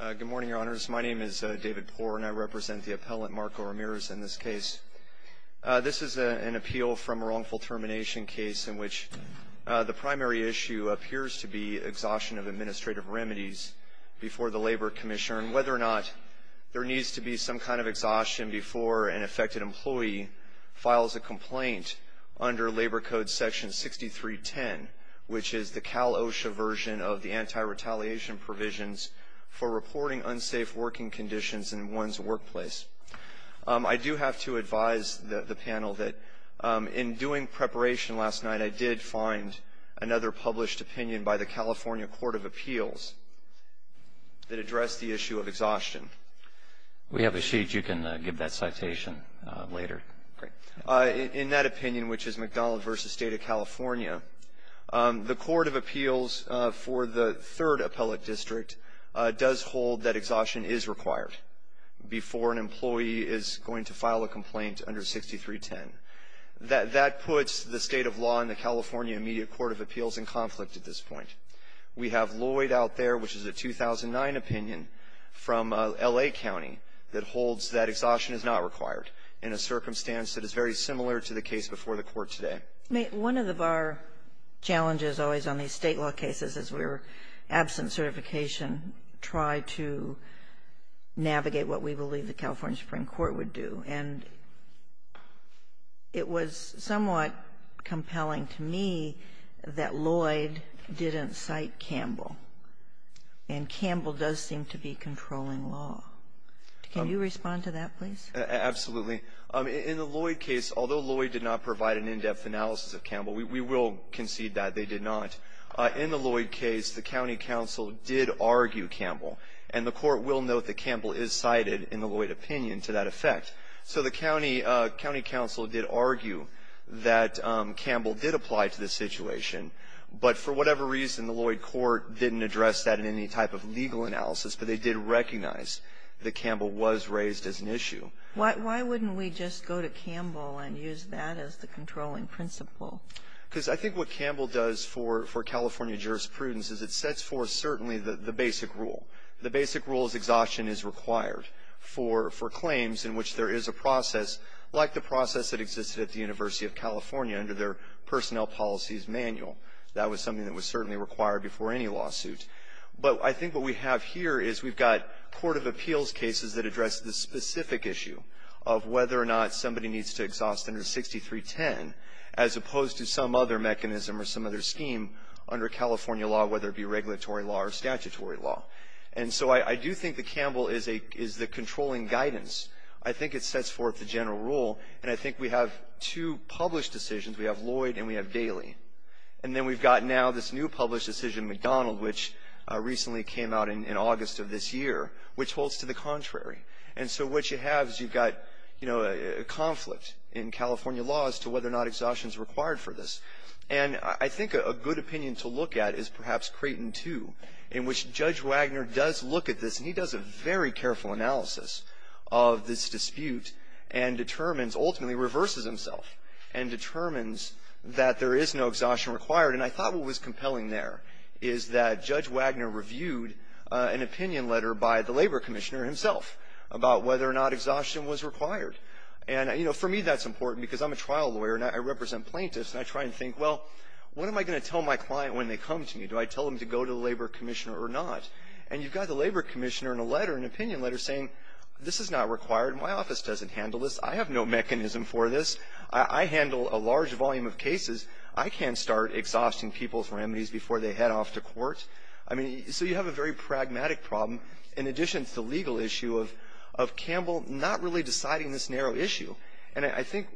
Good morning, Your Honors. My name is David Poore and I represent the appellant, Marco Ramirez, in this case. This is an appeal from a wrongful termination case in which the primary issue appears to be exhaustion of administrative remedies before the Labor Commissioner and whether or not there needs to be some kind of exhaustion before an affected employee files a complaint under Labor Code Section 6310, which is the Cal-OSHA version of the Anti-Retaliation Provisions for Reporting Unsafe Working Conditions in One's Workplace. I do have to advise the panel that in doing preparation last night, I did find another published opinion by the California Court of Appeals that addressed the issue of exhaustion. We have a sheet you can give that citation later. In that opinion, which is McDonald v. State of California, the Court of Appeals for the Third Appellate District does hold that exhaustion is required before an employee is going to file a complaint under 6310. That puts the State of Law and the California Immediate Court of Appeals in conflict at this point. We have Lloyd out there, which is a 2009 opinion from L.A. County, that holds that exhaustion is not required in a circumstance that is very similar to the case before the Court today. One of our challenges always on these State law cases is we're absent certification try to navigate what we believe the California Supreme Court would do. And it was somewhat compelling to me that Lloyd didn't cite Campbell. And Campbell does seem to be controlling law. Can you respond to that, please? Absolutely. In the Lloyd case, although Lloyd did not provide an in-depth analysis of Campbell, we will concede that they did not. In the Lloyd case, the county counsel did argue Campbell. And the Court will note that Campbell is cited in the Lloyd opinion to that effect. So the county counsel did argue that Campbell did apply to this situation. But for whatever reason, the Lloyd court didn't address that in any type of legal analysis. But they did recognize that Campbell was raised as an issue. Why wouldn't we just go to Campbell and use that as the controlling principle? Because I think what Campbell does for California jurisprudence is it sets forth certainly the basic rule. The basic rule is exhaustion is required for claims in which there is a process, like the process that existed at the University of California under their personnel policies manual. That was something that was certainly required before any lawsuit. But I think what we have here is we've got court of appeals cases that address the specific issue of whether or not somebody needs to exhaust under 6310, as opposed to some other mechanism or some other scheme under California law, whether it be regulatory law or statutory law. And so I do think that Campbell is the controlling guidance. I think it sets forth the general rule. And I think we have two published decisions. We have Lloyd and we have Daley. And then we've got now this new published decision, McDonald, which recently came out in August of this year, which holds to the contrary. And so what you have is you've got, you know, a conflict in California law as to whether or not exhaustion is required for this. And I think a good opinion to look at is perhaps Creighton 2, in which Judge Wagner does look at this and he does a very careful analysis of this dispute and determines, ultimately reverses himself and determines that there is no exhaustion required. And I thought what was compelling there is that Judge Wagner reviewed an opinion letter by the labor commissioner himself about whether or not exhaustion was required. And, you know, for me that's important because I'm a trial lawyer and I represent plaintiffs and I try and think, well, what am I going to tell my client when they come to me? Do I tell them to go to the labor commissioner or not? And you've got the labor commissioner in a letter, an opinion letter saying, this is not required. My office doesn't handle this. I have no mechanism for this. I handle a large volume of cases. I can't start exhausting people's remedies before they head off to court. I mean, so you have a very pragmatic problem in addition to the legal issue of Campbell not really deciding this narrow issue. And I think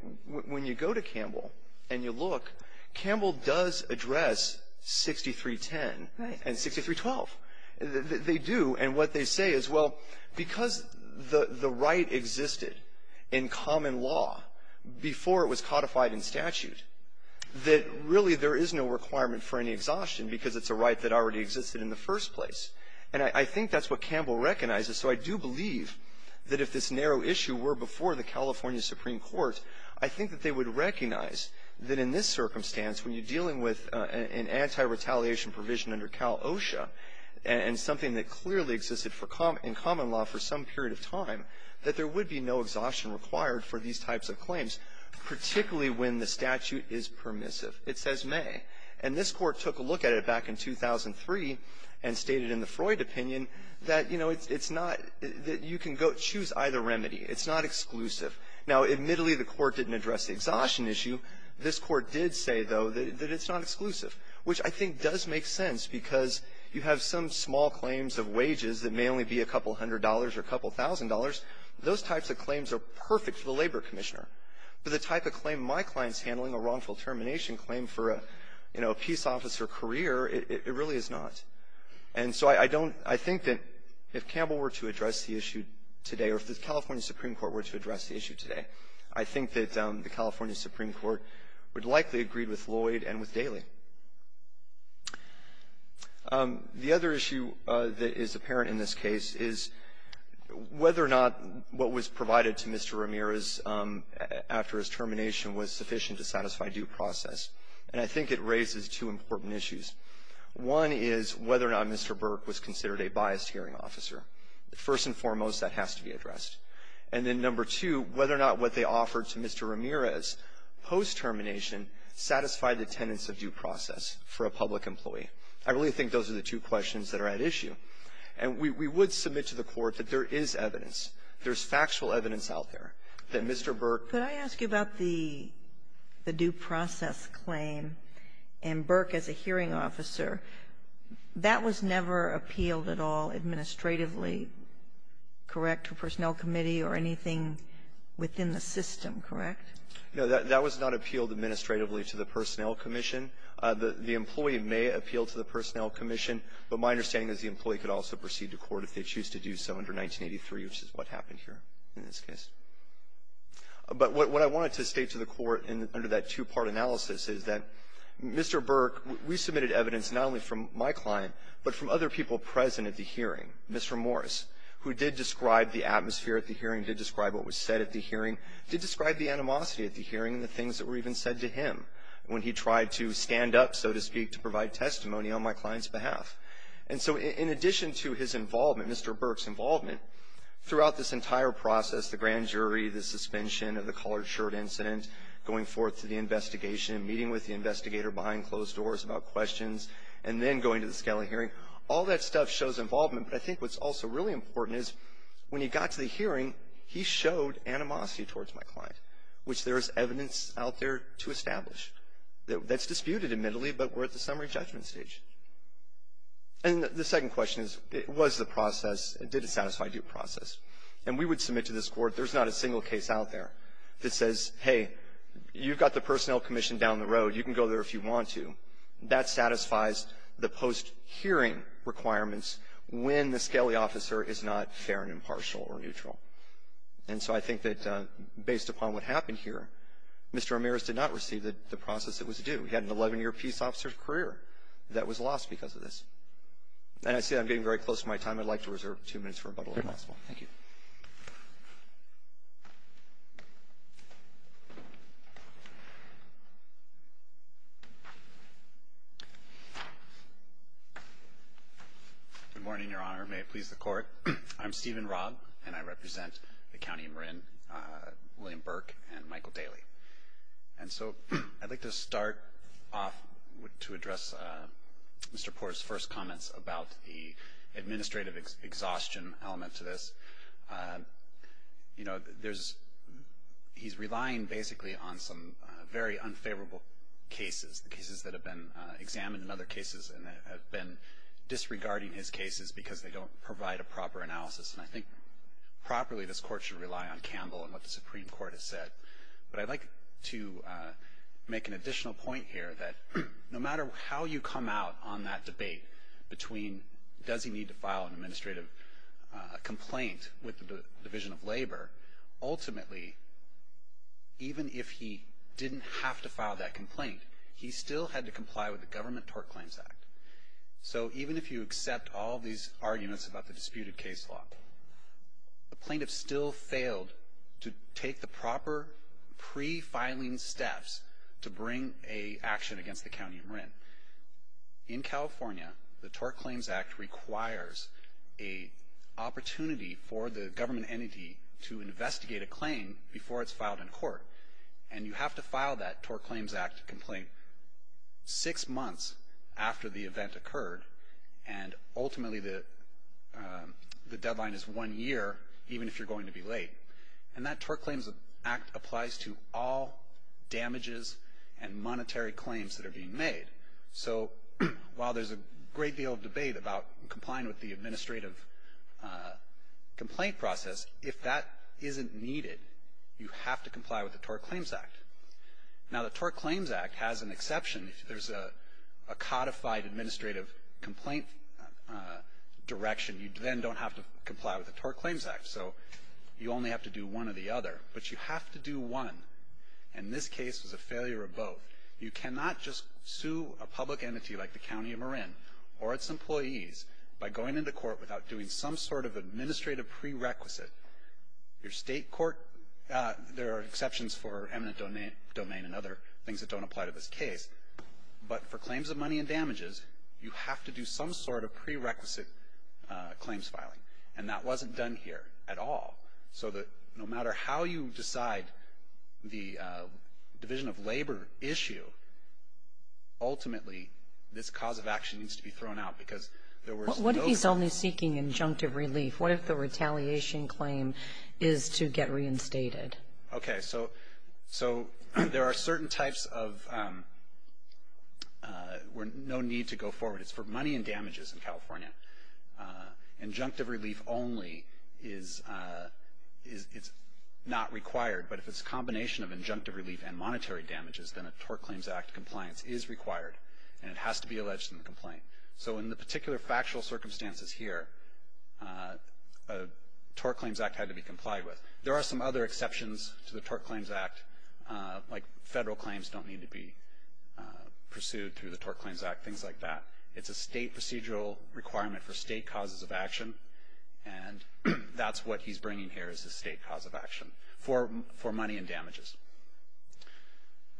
when you go to Campbell and you look, Campbell does address 6310 and 6312. They do. And what they say is, well, because the right existed in common law before it was codified in statute, that really there is no requirement for any exhaustion because it's a right that already existed in the first place. And I think that's what Campbell recognizes. So I do believe that if this narrow issue were before the California Supreme Court, I think that they would recognize that in this circumstance, when you're and something that clearly existed for common law for some period of time, that there would be no exhaustion required for these types of claims, particularly when the statute is permissive. It says may. And this Court took a look at it back in 2003 and stated in the Freud opinion that, you know, it's not that you can go choose either remedy. It's not exclusive. Now, admittedly, the Court didn't address the exhaustion issue. This Court did say, though, that it's not exclusive, which I think does make sense because you have some small claims of wages that may only be a couple hundred dollars or a couple thousand dollars. Those types of claims are perfect for the labor commissioner. But the type of claim my client's handling, a wrongful termination claim for a, you know, a peace officer career, it really is not. And so I don't – I think that if Campbell were to address the issue today or if the California Supreme Court were to address the issue today, I think that the California Supreme Court would likely agree with Lloyd and with Daley. The other issue that is apparent in this case is whether or not what was provided to Mr. Ramirez after his termination was sufficient to satisfy due process. And I think it raises two important issues. One is whether or not Mr. Burke was considered a biased hearing officer. First and foremost, that has to be addressed. And then number two, whether or not what they offered to Mr. Ramirez post-termination satisfied the tenets of due process for a public employee. I really think those are the two questions that are at issue. And we would submit to the Court that there is evidence, there's factual evidence out there, that Mr. Burke – Sotomayor, could I ask you about the due process claim and Burke as a hearing officer? That was never appealed at all administratively, correct, to a personnel committee or anything within the system, correct? No. That was not appealed administratively to the Personnel Commission. The employee may appeal to the Personnel Commission, but my understanding is the employee could also proceed to court if they choose to do so under 1983, which is what happened here in this case. But what I wanted to state to the Court under that two-part analysis is that Mr. Burke, we submitted evidence not only from my client, but from other people present at the hearing, Mr. Morris, who did describe the atmosphere at the hearing, did describe what was said at the hearing, did describe the animosity at the hearing and the things that were even said to him when he tried to stand up, so to speak, to provide testimony on my client's behalf. And so in addition to his involvement, Mr. Burke's involvement, throughout this entire process, the grand jury, the suspension of the collared shirt incident, going forth to the investigation, meeting with the investigator behind closed doors about questions, and then going to the Scali hearing, all that stuff shows involvement, but I think what's also really important is when he got to the hearing, he showed animosity towards my client, which there is evidence out there to establish that's disputed, admittedly, but we're at the summary judgment stage. And the second question is, was the process, did it satisfy due process? And we would submit to this Court, there's not a single case out there that says, hey, you've got the Personnel Commission down the road. You can go there if you want to. That satisfies the post-hearing requirements when the Scali officer is not fair and impartial or neutral. And so I think that based upon what happened here, Mr. Ramirez did not receive the process that was due. He had an 11-year peace officer's career that was lost because of this. And I see I'm getting very close to my time. I'd like to reserve two minutes for rebuttal, if possible. Thank you. Good morning, Your Honor. May it please the Court. I'm Stephen Robb, and I represent the County of Marin, William Burke, and Michael Daly. And so I'd like to start off to address Mr. Porter's first comments about the process. You know, there's he's relying basically on some very unfavorable cases, the cases that have been examined and other cases that have been disregarding his cases because they don't provide a proper analysis. And I think properly this Court should rely on Campbell and what the Supreme Court has said. But I'd like to make an additional point here that no matter how you come out on that debate between does he need to file an administrative complaint with the Division of Labor, ultimately, even if he didn't have to file that complaint, he still had to comply with the Government Tort Claims Act. So even if you accept all these arguments about the disputed case law, the plaintiffs still failed to take the proper pre-filing steps to bring an action against the County of Marin. In California, the Tort Claims Act requires a opportunity for the government entity to investigate a claim before it's filed in court. And you have to file that Tort Claims Act complaint six months after the event occurred. And ultimately, the deadline is one year, even if you're going to be late. And that Tort Claims Act applies to all damages and monetary claims that are being made. So while there's a great deal of debate about complying with the administrative complaint process, if that isn't needed, you have to comply with the Tort Claims Act. Now, the Tort Claims Act has an exception. If there's a codified administrative complaint direction, you then don't have to comply with the Tort Claims Act. So you only have to do one or the other. But you have to do one. And this case was a failure of both. You cannot just sue a public entity like the County of Marin or its employees by going into court without doing some sort of administrative prerequisite. Your state court, there are exceptions for eminent domain and other things that don't apply to this case. But for claims of money and damages, you have to do some sort of prerequisite claims filing. And that wasn't done here at all. So that no matter how you decide the division of labor issue, ultimately, this cause of action needs to be thrown out because there was no... What if he's only seeking injunctive relief? What if the retaliation claim is to get reinstated? Okay. So there are certain types of where no need to go forward. It's for money and damages in California. Injunctive relief only is not required. But if it's a combination of injunctive relief and monetary damages, then a Tort Claims Act compliance is required. And it has to be alleged in the complaint. So in the particular factual circumstances here, a Tort Claims Act had to be complied with. There are some other exceptions to the Tort Claims Act, like federal claims don't need to be pursued through the Tort Claims Act, things like that. It's a state procedural requirement for state causes of action. And that's what he's bringing here is the state cause of action for money and damages.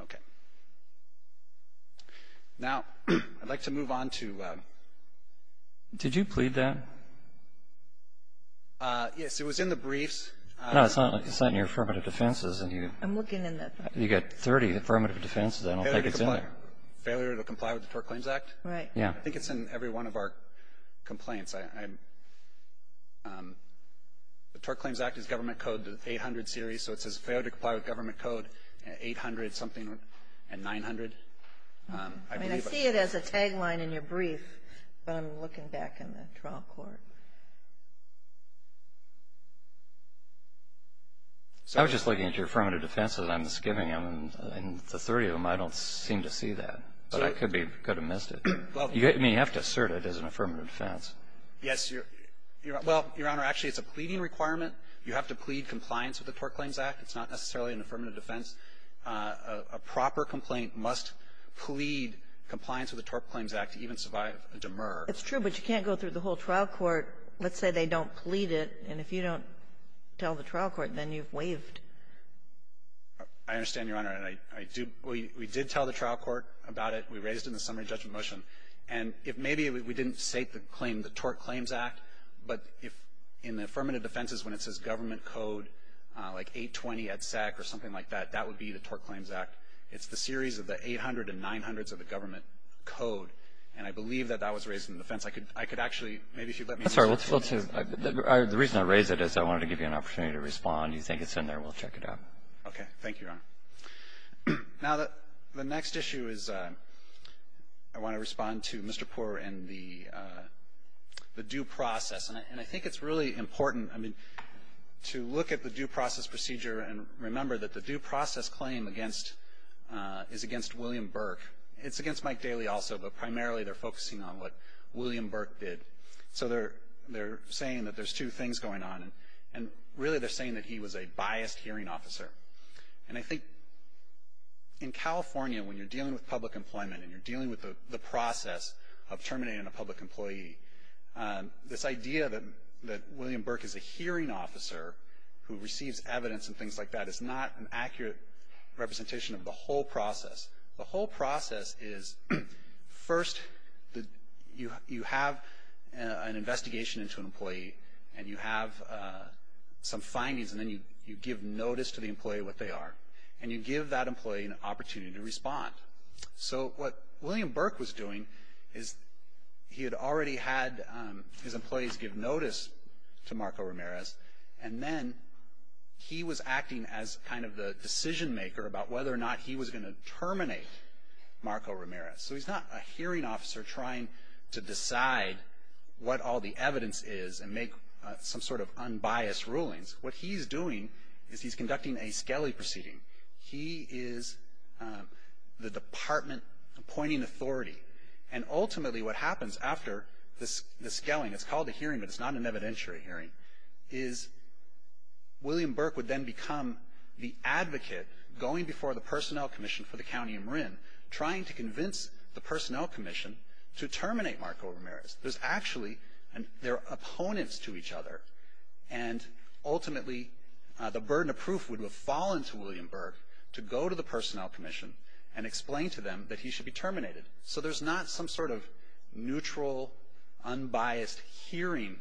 Okay. Now, I'd like to move on to... Did you plead that? Yes, it was in the briefs. No, it's not in your affirmative defenses. I'm looking in the... You've got 30 affirmative defenses. I don't think it's in there. Failure to comply with the Tort Claims Act? Right. Yeah. I think it's in every one of our complaints. The Tort Claims Act is Government Code 800 series, so it says failure to comply with Government Code 800-something and 900. I see it as a tagline in your brief, but I'm looking back in the trial court. I was just looking at your affirmative defenses. I'm skipping them. The 30 of them, I don't seem to see that, but I could have missed it. You have to assert it as an affirmative defense. Yes. Well, Your Honor, actually, it's a pleading requirement. You have to plead compliance with the Tort Claims Act. It's not necessarily an affirmative defense. A proper complaint must plead compliance with the Tort Claims Act to even survive a demur. It's true, but you can't go through the whole trial court. Let's say they don't plead it, and if you don't tell the trial court, then you've waived. I understand, Your Honor. We did tell the trial court about it. We raised it in the summary judgment motion. And if maybe we didn't state the claim, the Tort Claims Act, but if in the affirmative defenses when it says Government Code, like, 820 EDSEC or something like that, that would be the Tort Claims Act. It's the series of the 800 and 900s of the Government Code, and I believe that that was raised in the defense. I could actually, maybe if you let me. The reason I raised it is I wanted to give you an opportunity to respond. Do you think it's in there? We'll check it out. Okay. Thank you, Your Honor. Now, the next issue is I want to respond to Mr. Poore and the due process. And I think it's really important, I mean, to look at the due process procedure and remember that the due process claim is against William Burke. It's against Mike Daly also, but primarily they're focusing on what William Burke So they're saying that there's two things going on. And really they're saying that he was a biased hearing officer. And I think in California, when you're dealing with public employment and you're dealing with the process of terminating a public employee, this idea that William Burke is a hearing officer who receives evidence and things like that is not an accurate representation of the whole process. The whole process is, first, you have an investigation into an employee and you have some findings and then you give notice to the employee what they are. And you give that employee an opportunity to respond. So what William Burke was doing is he had already had his employees give notice to Marco Ramirez, and then he was acting as kind of the decision maker about whether or not he was going to terminate Marco Ramirez. So he's not a hearing officer trying to decide what all the evidence is and make some sort of unbiased rulings. What he's doing is he's conducting a skelly proceeding. He is the department appointing authority. And ultimately what happens after the skelling, it's called a hearing but it's not an evidentiary hearing, is William Burke would then become the advocate going before the personnel commission for the county of Marin, trying to convince the personnel commission to terminate Marco Ramirez. There's actually, they're opponents to each other, and ultimately the burden of proof would have fallen to William Burke to go to the personnel commission and explain to them that he should be terminated. So there's not some sort of neutral, unbiased hearing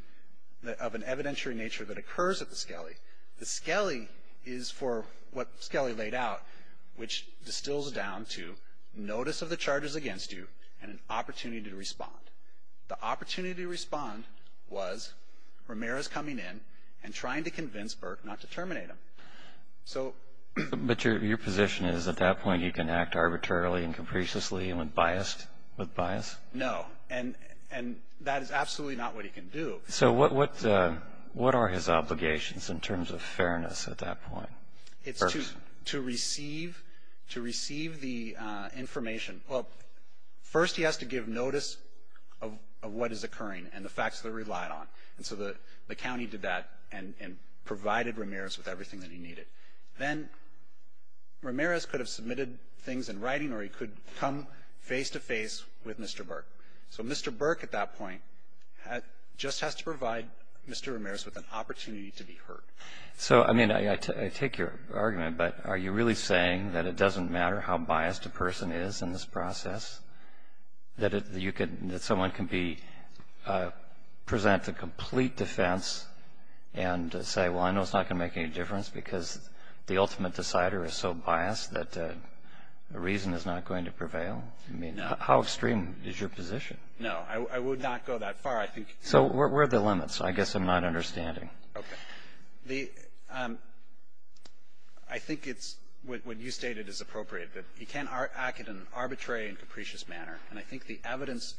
of an evidentiary nature that occurs at the skelly. The skelly is for what skelly laid out, which distills down to notice of the charges against you and an opportunity to respond. The opportunity to respond was Ramirez coming in and trying to convince Burke not to terminate him. So. But your position is at that point you can act arbitrarily and capriciously and with bias? No. And that is absolutely not what he can do. So what are his obligations in terms of fairness at that point? It's to receive the information. Well, first he has to give notice of what is occurring and the facts that are relied on. And so the county did that and provided Ramirez with everything that he needed. Then Ramirez could have submitted things in writing or he could come face to face with Mr. Burke. So Mr. Burke at that point just has to provide Mr. Ramirez with an opportunity to be heard. So, I mean, I take your argument, but are you really saying that it doesn't matter how biased a person is in this process, that someone can present a complete defense and say, well, I know it's not going to make any difference because the ultimate decider is so biased that the reason is not going to prevail? I mean, how extreme is your position? No, I would not go that far. So where are the limits? I guess I'm not understanding. Okay. I think it's what you stated is appropriate, that he can't act in an arbitrary and capricious manner. And I think the evidence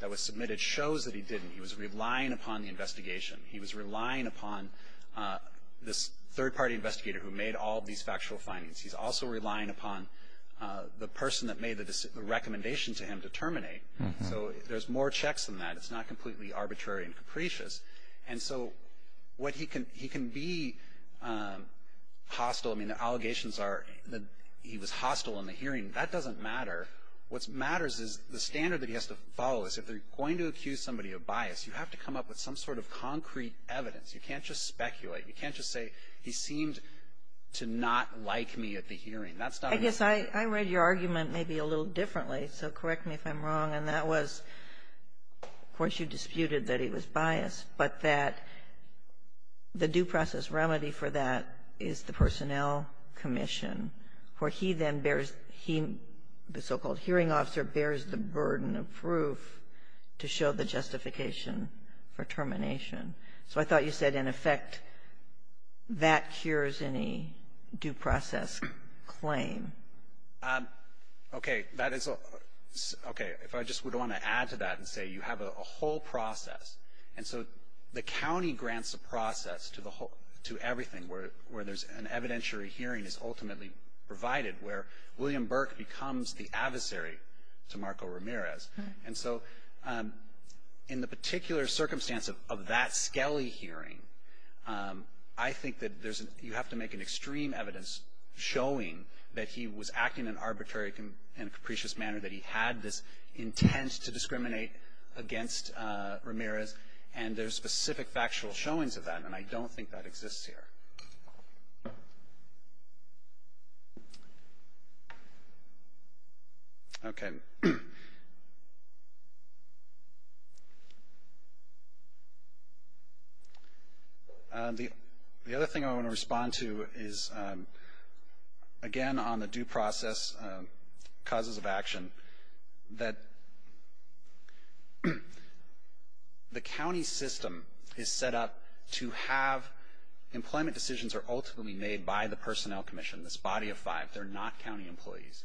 that was submitted shows that he didn't. He was relying upon the investigation. He was relying upon this third-party investigator who made all these factual findings. He's also relying upon the person that made the recommendation to him to terminate. So there's more checks than that. It's not completely arbitrary and capricious. And so he can be hostile. I mean, the allegations are that he was hostile in the hearing. That doesn't matter. What matters is the standard that he has to follow is if they're going to accuse somebody of bias, you have to come up with some sort of concrete evidence. You can't just speculate. You can't just say, he seemed to not like me at the hearing. That's not enough. I guess I read your argument maybe a little differently, so correct me if I'm wrong. And that was, of course, you disputed that he was biased, but that the due process remedy for that is the personnel commission, where he then bears the so-called hearing officer bears the burden of proof to show the justification for termination. So I thought you said, in effect, that cures any due process claim. Okay. If I just would want to add to that and say you have a whole process. And so the county grants a process to everything where there's an evidentiary hearing is ultimately provided, where William Burke becomes the adversary to Marco Ramirez. And so in the particular circumstance of that Skelly hearing, I think that you have to make an extreme evidence showing that he was acting in an arbitrary and capricious manner, that he had this intent to discriminate against Ramirez. And there's specific factual showings of that, and I don't think that exists here. Okay. All right. The other thing I want to respond to is, again, on the due process causes of action, that the county system is set up to have employment decisions are ultimately made by the personnel commission, this body of five. They're not county employees.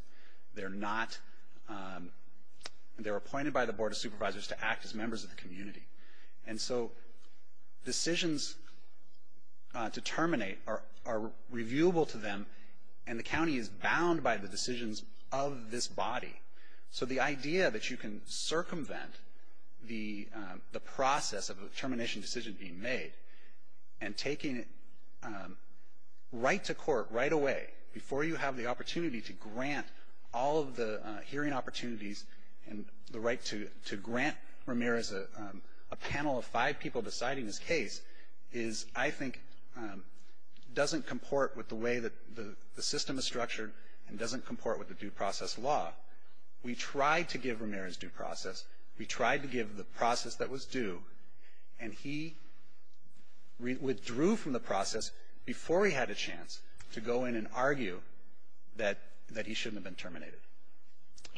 They're appointed by the Board of Supervisors to act as members of the community. And so decisions to terminate are reviewable to them, and the county is bound by the decisions of this body. So the idea that you can circumvent the process of a termination decision being made and taking it right to court, right away, before you have the opportunity to grant all of the hearing opportunities and the right to grant Ramirez a panel of five people deciding his case is, I think, doesn't comport with the way that the system is structured and doesn't comport with the due process law. We tried to give Ramirez due process. We tried to give the process that was due. And he withdrew from the process before he had a chance to go in and argue that he shouldn't have been terminated.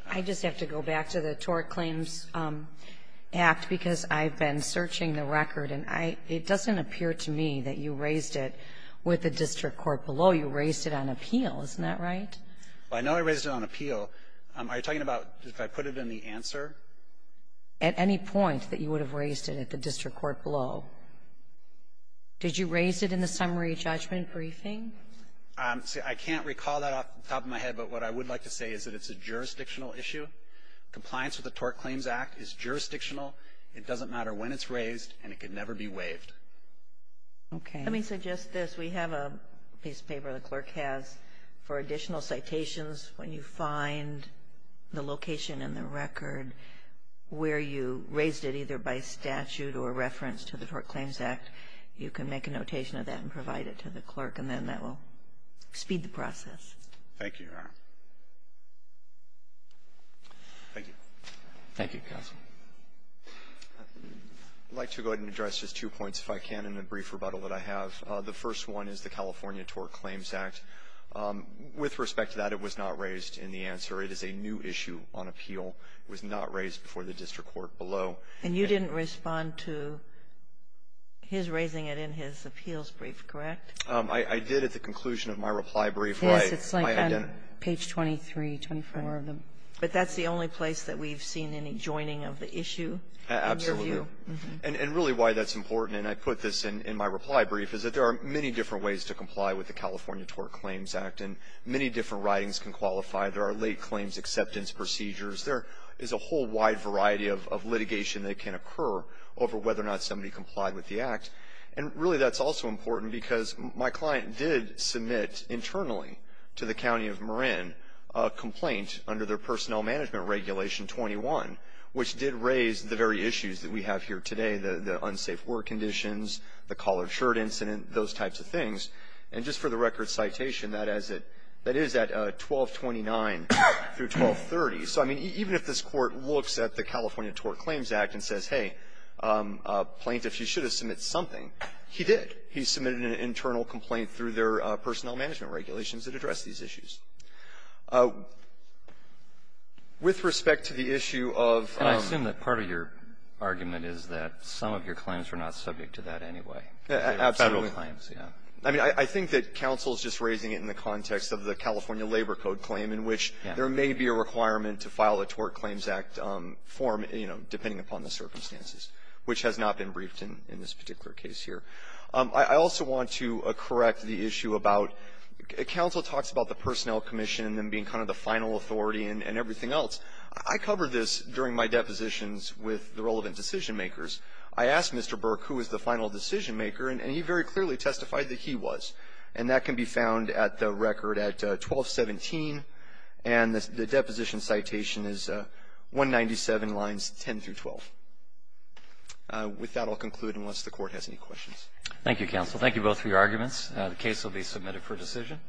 I just have to go back to the Tort Claims Act because I've been searching the record, and it doesn't appear to me that you raised it with the district court below. You raised it on appeal. Isn't that right? Well, I know I raised it on appeal. Are you talking about if I put it in the answer? At any point that you would have raised it at the district court below. Did you raise it in the summary judgment briefing? I can't recall that off the top of my head, but what I would like to say is that it's a jurisdictional issue. Compliance with the Tort Claims Act is jurisdictional. It doesn't matter when it's raised, and it can never be waived. Okay. Let me suggest this. We have a piece of paper the clerk has for additional citations. When you find the location in the record where you raised it either by statute or reference to the Tort Claims Act, you can make a notation of that and provide it to the clerk, and then that will speed the process. Thank you, Your Honor. Thank you. Thank you, counsel. I'd like to go ahead and address just two points, if I can, in the brief rebuttal that I have. The first one is the California Tort Claims Act. With respect to that, it was not raised in the answer. It is a new issue on appeal. It was not raised before the district court below. And you didn't respond to his raising it in his appeals brief, correct? I did at the conclusion of my reply brief. Yes, it's like on page 23, 24 of them. But that's the only place that we've seen any joining of the issue in your view. Absolutely. And really why that's important, and I put this in my reply brief, is that there are many different ways to comply with the California Tort Claims Act, and many different writings can qualify. There are late claims acceptance procedures. There is a whole wide variety of litigation that can occur over whether or not somebody complied with the act. And really that's also important because my client did submit internally to the county of Marin a complaint under their personnel management regulation 21, which did raise the very issues that we have here today, the unsafe work conditions, the collared shirt incident, those types of things. And just for the record citation, that is at 1229 through 1230. So, I mean, even if this Court looks at the California Tort Claims Act and says, hey, plaintiff, you should have submitted something, he did. He submitted an internal complaint through their personnel management regulations that address these issues. With respect to the issue of ---- And I assume that part of your argument is that some of your claims are not subject to that anyway. Absolutely. I mean, I think that counsel is just raising it in the context of the California Labor Code claim in which there may be a requirement to file a Tort Claims Act form, you know, depending upon the circumstances, which has not been briefed in this particular case here. I also want to correct the issue about counsel talks about the personnel commission and them being kind of the final authority and everything else. I covered this during my depositions with the relevant decision-makers. I asked Mr. Burke who was the final decision-maker, and he very clearly testified that he was. And that can be found at the record at 1217, and the deposition citation is 197 lines 10 through 12. With that, I'll conclude unless the Court has any questions. Thank you, counsel. Thank you both for your arguments. The case will be submitted for decision.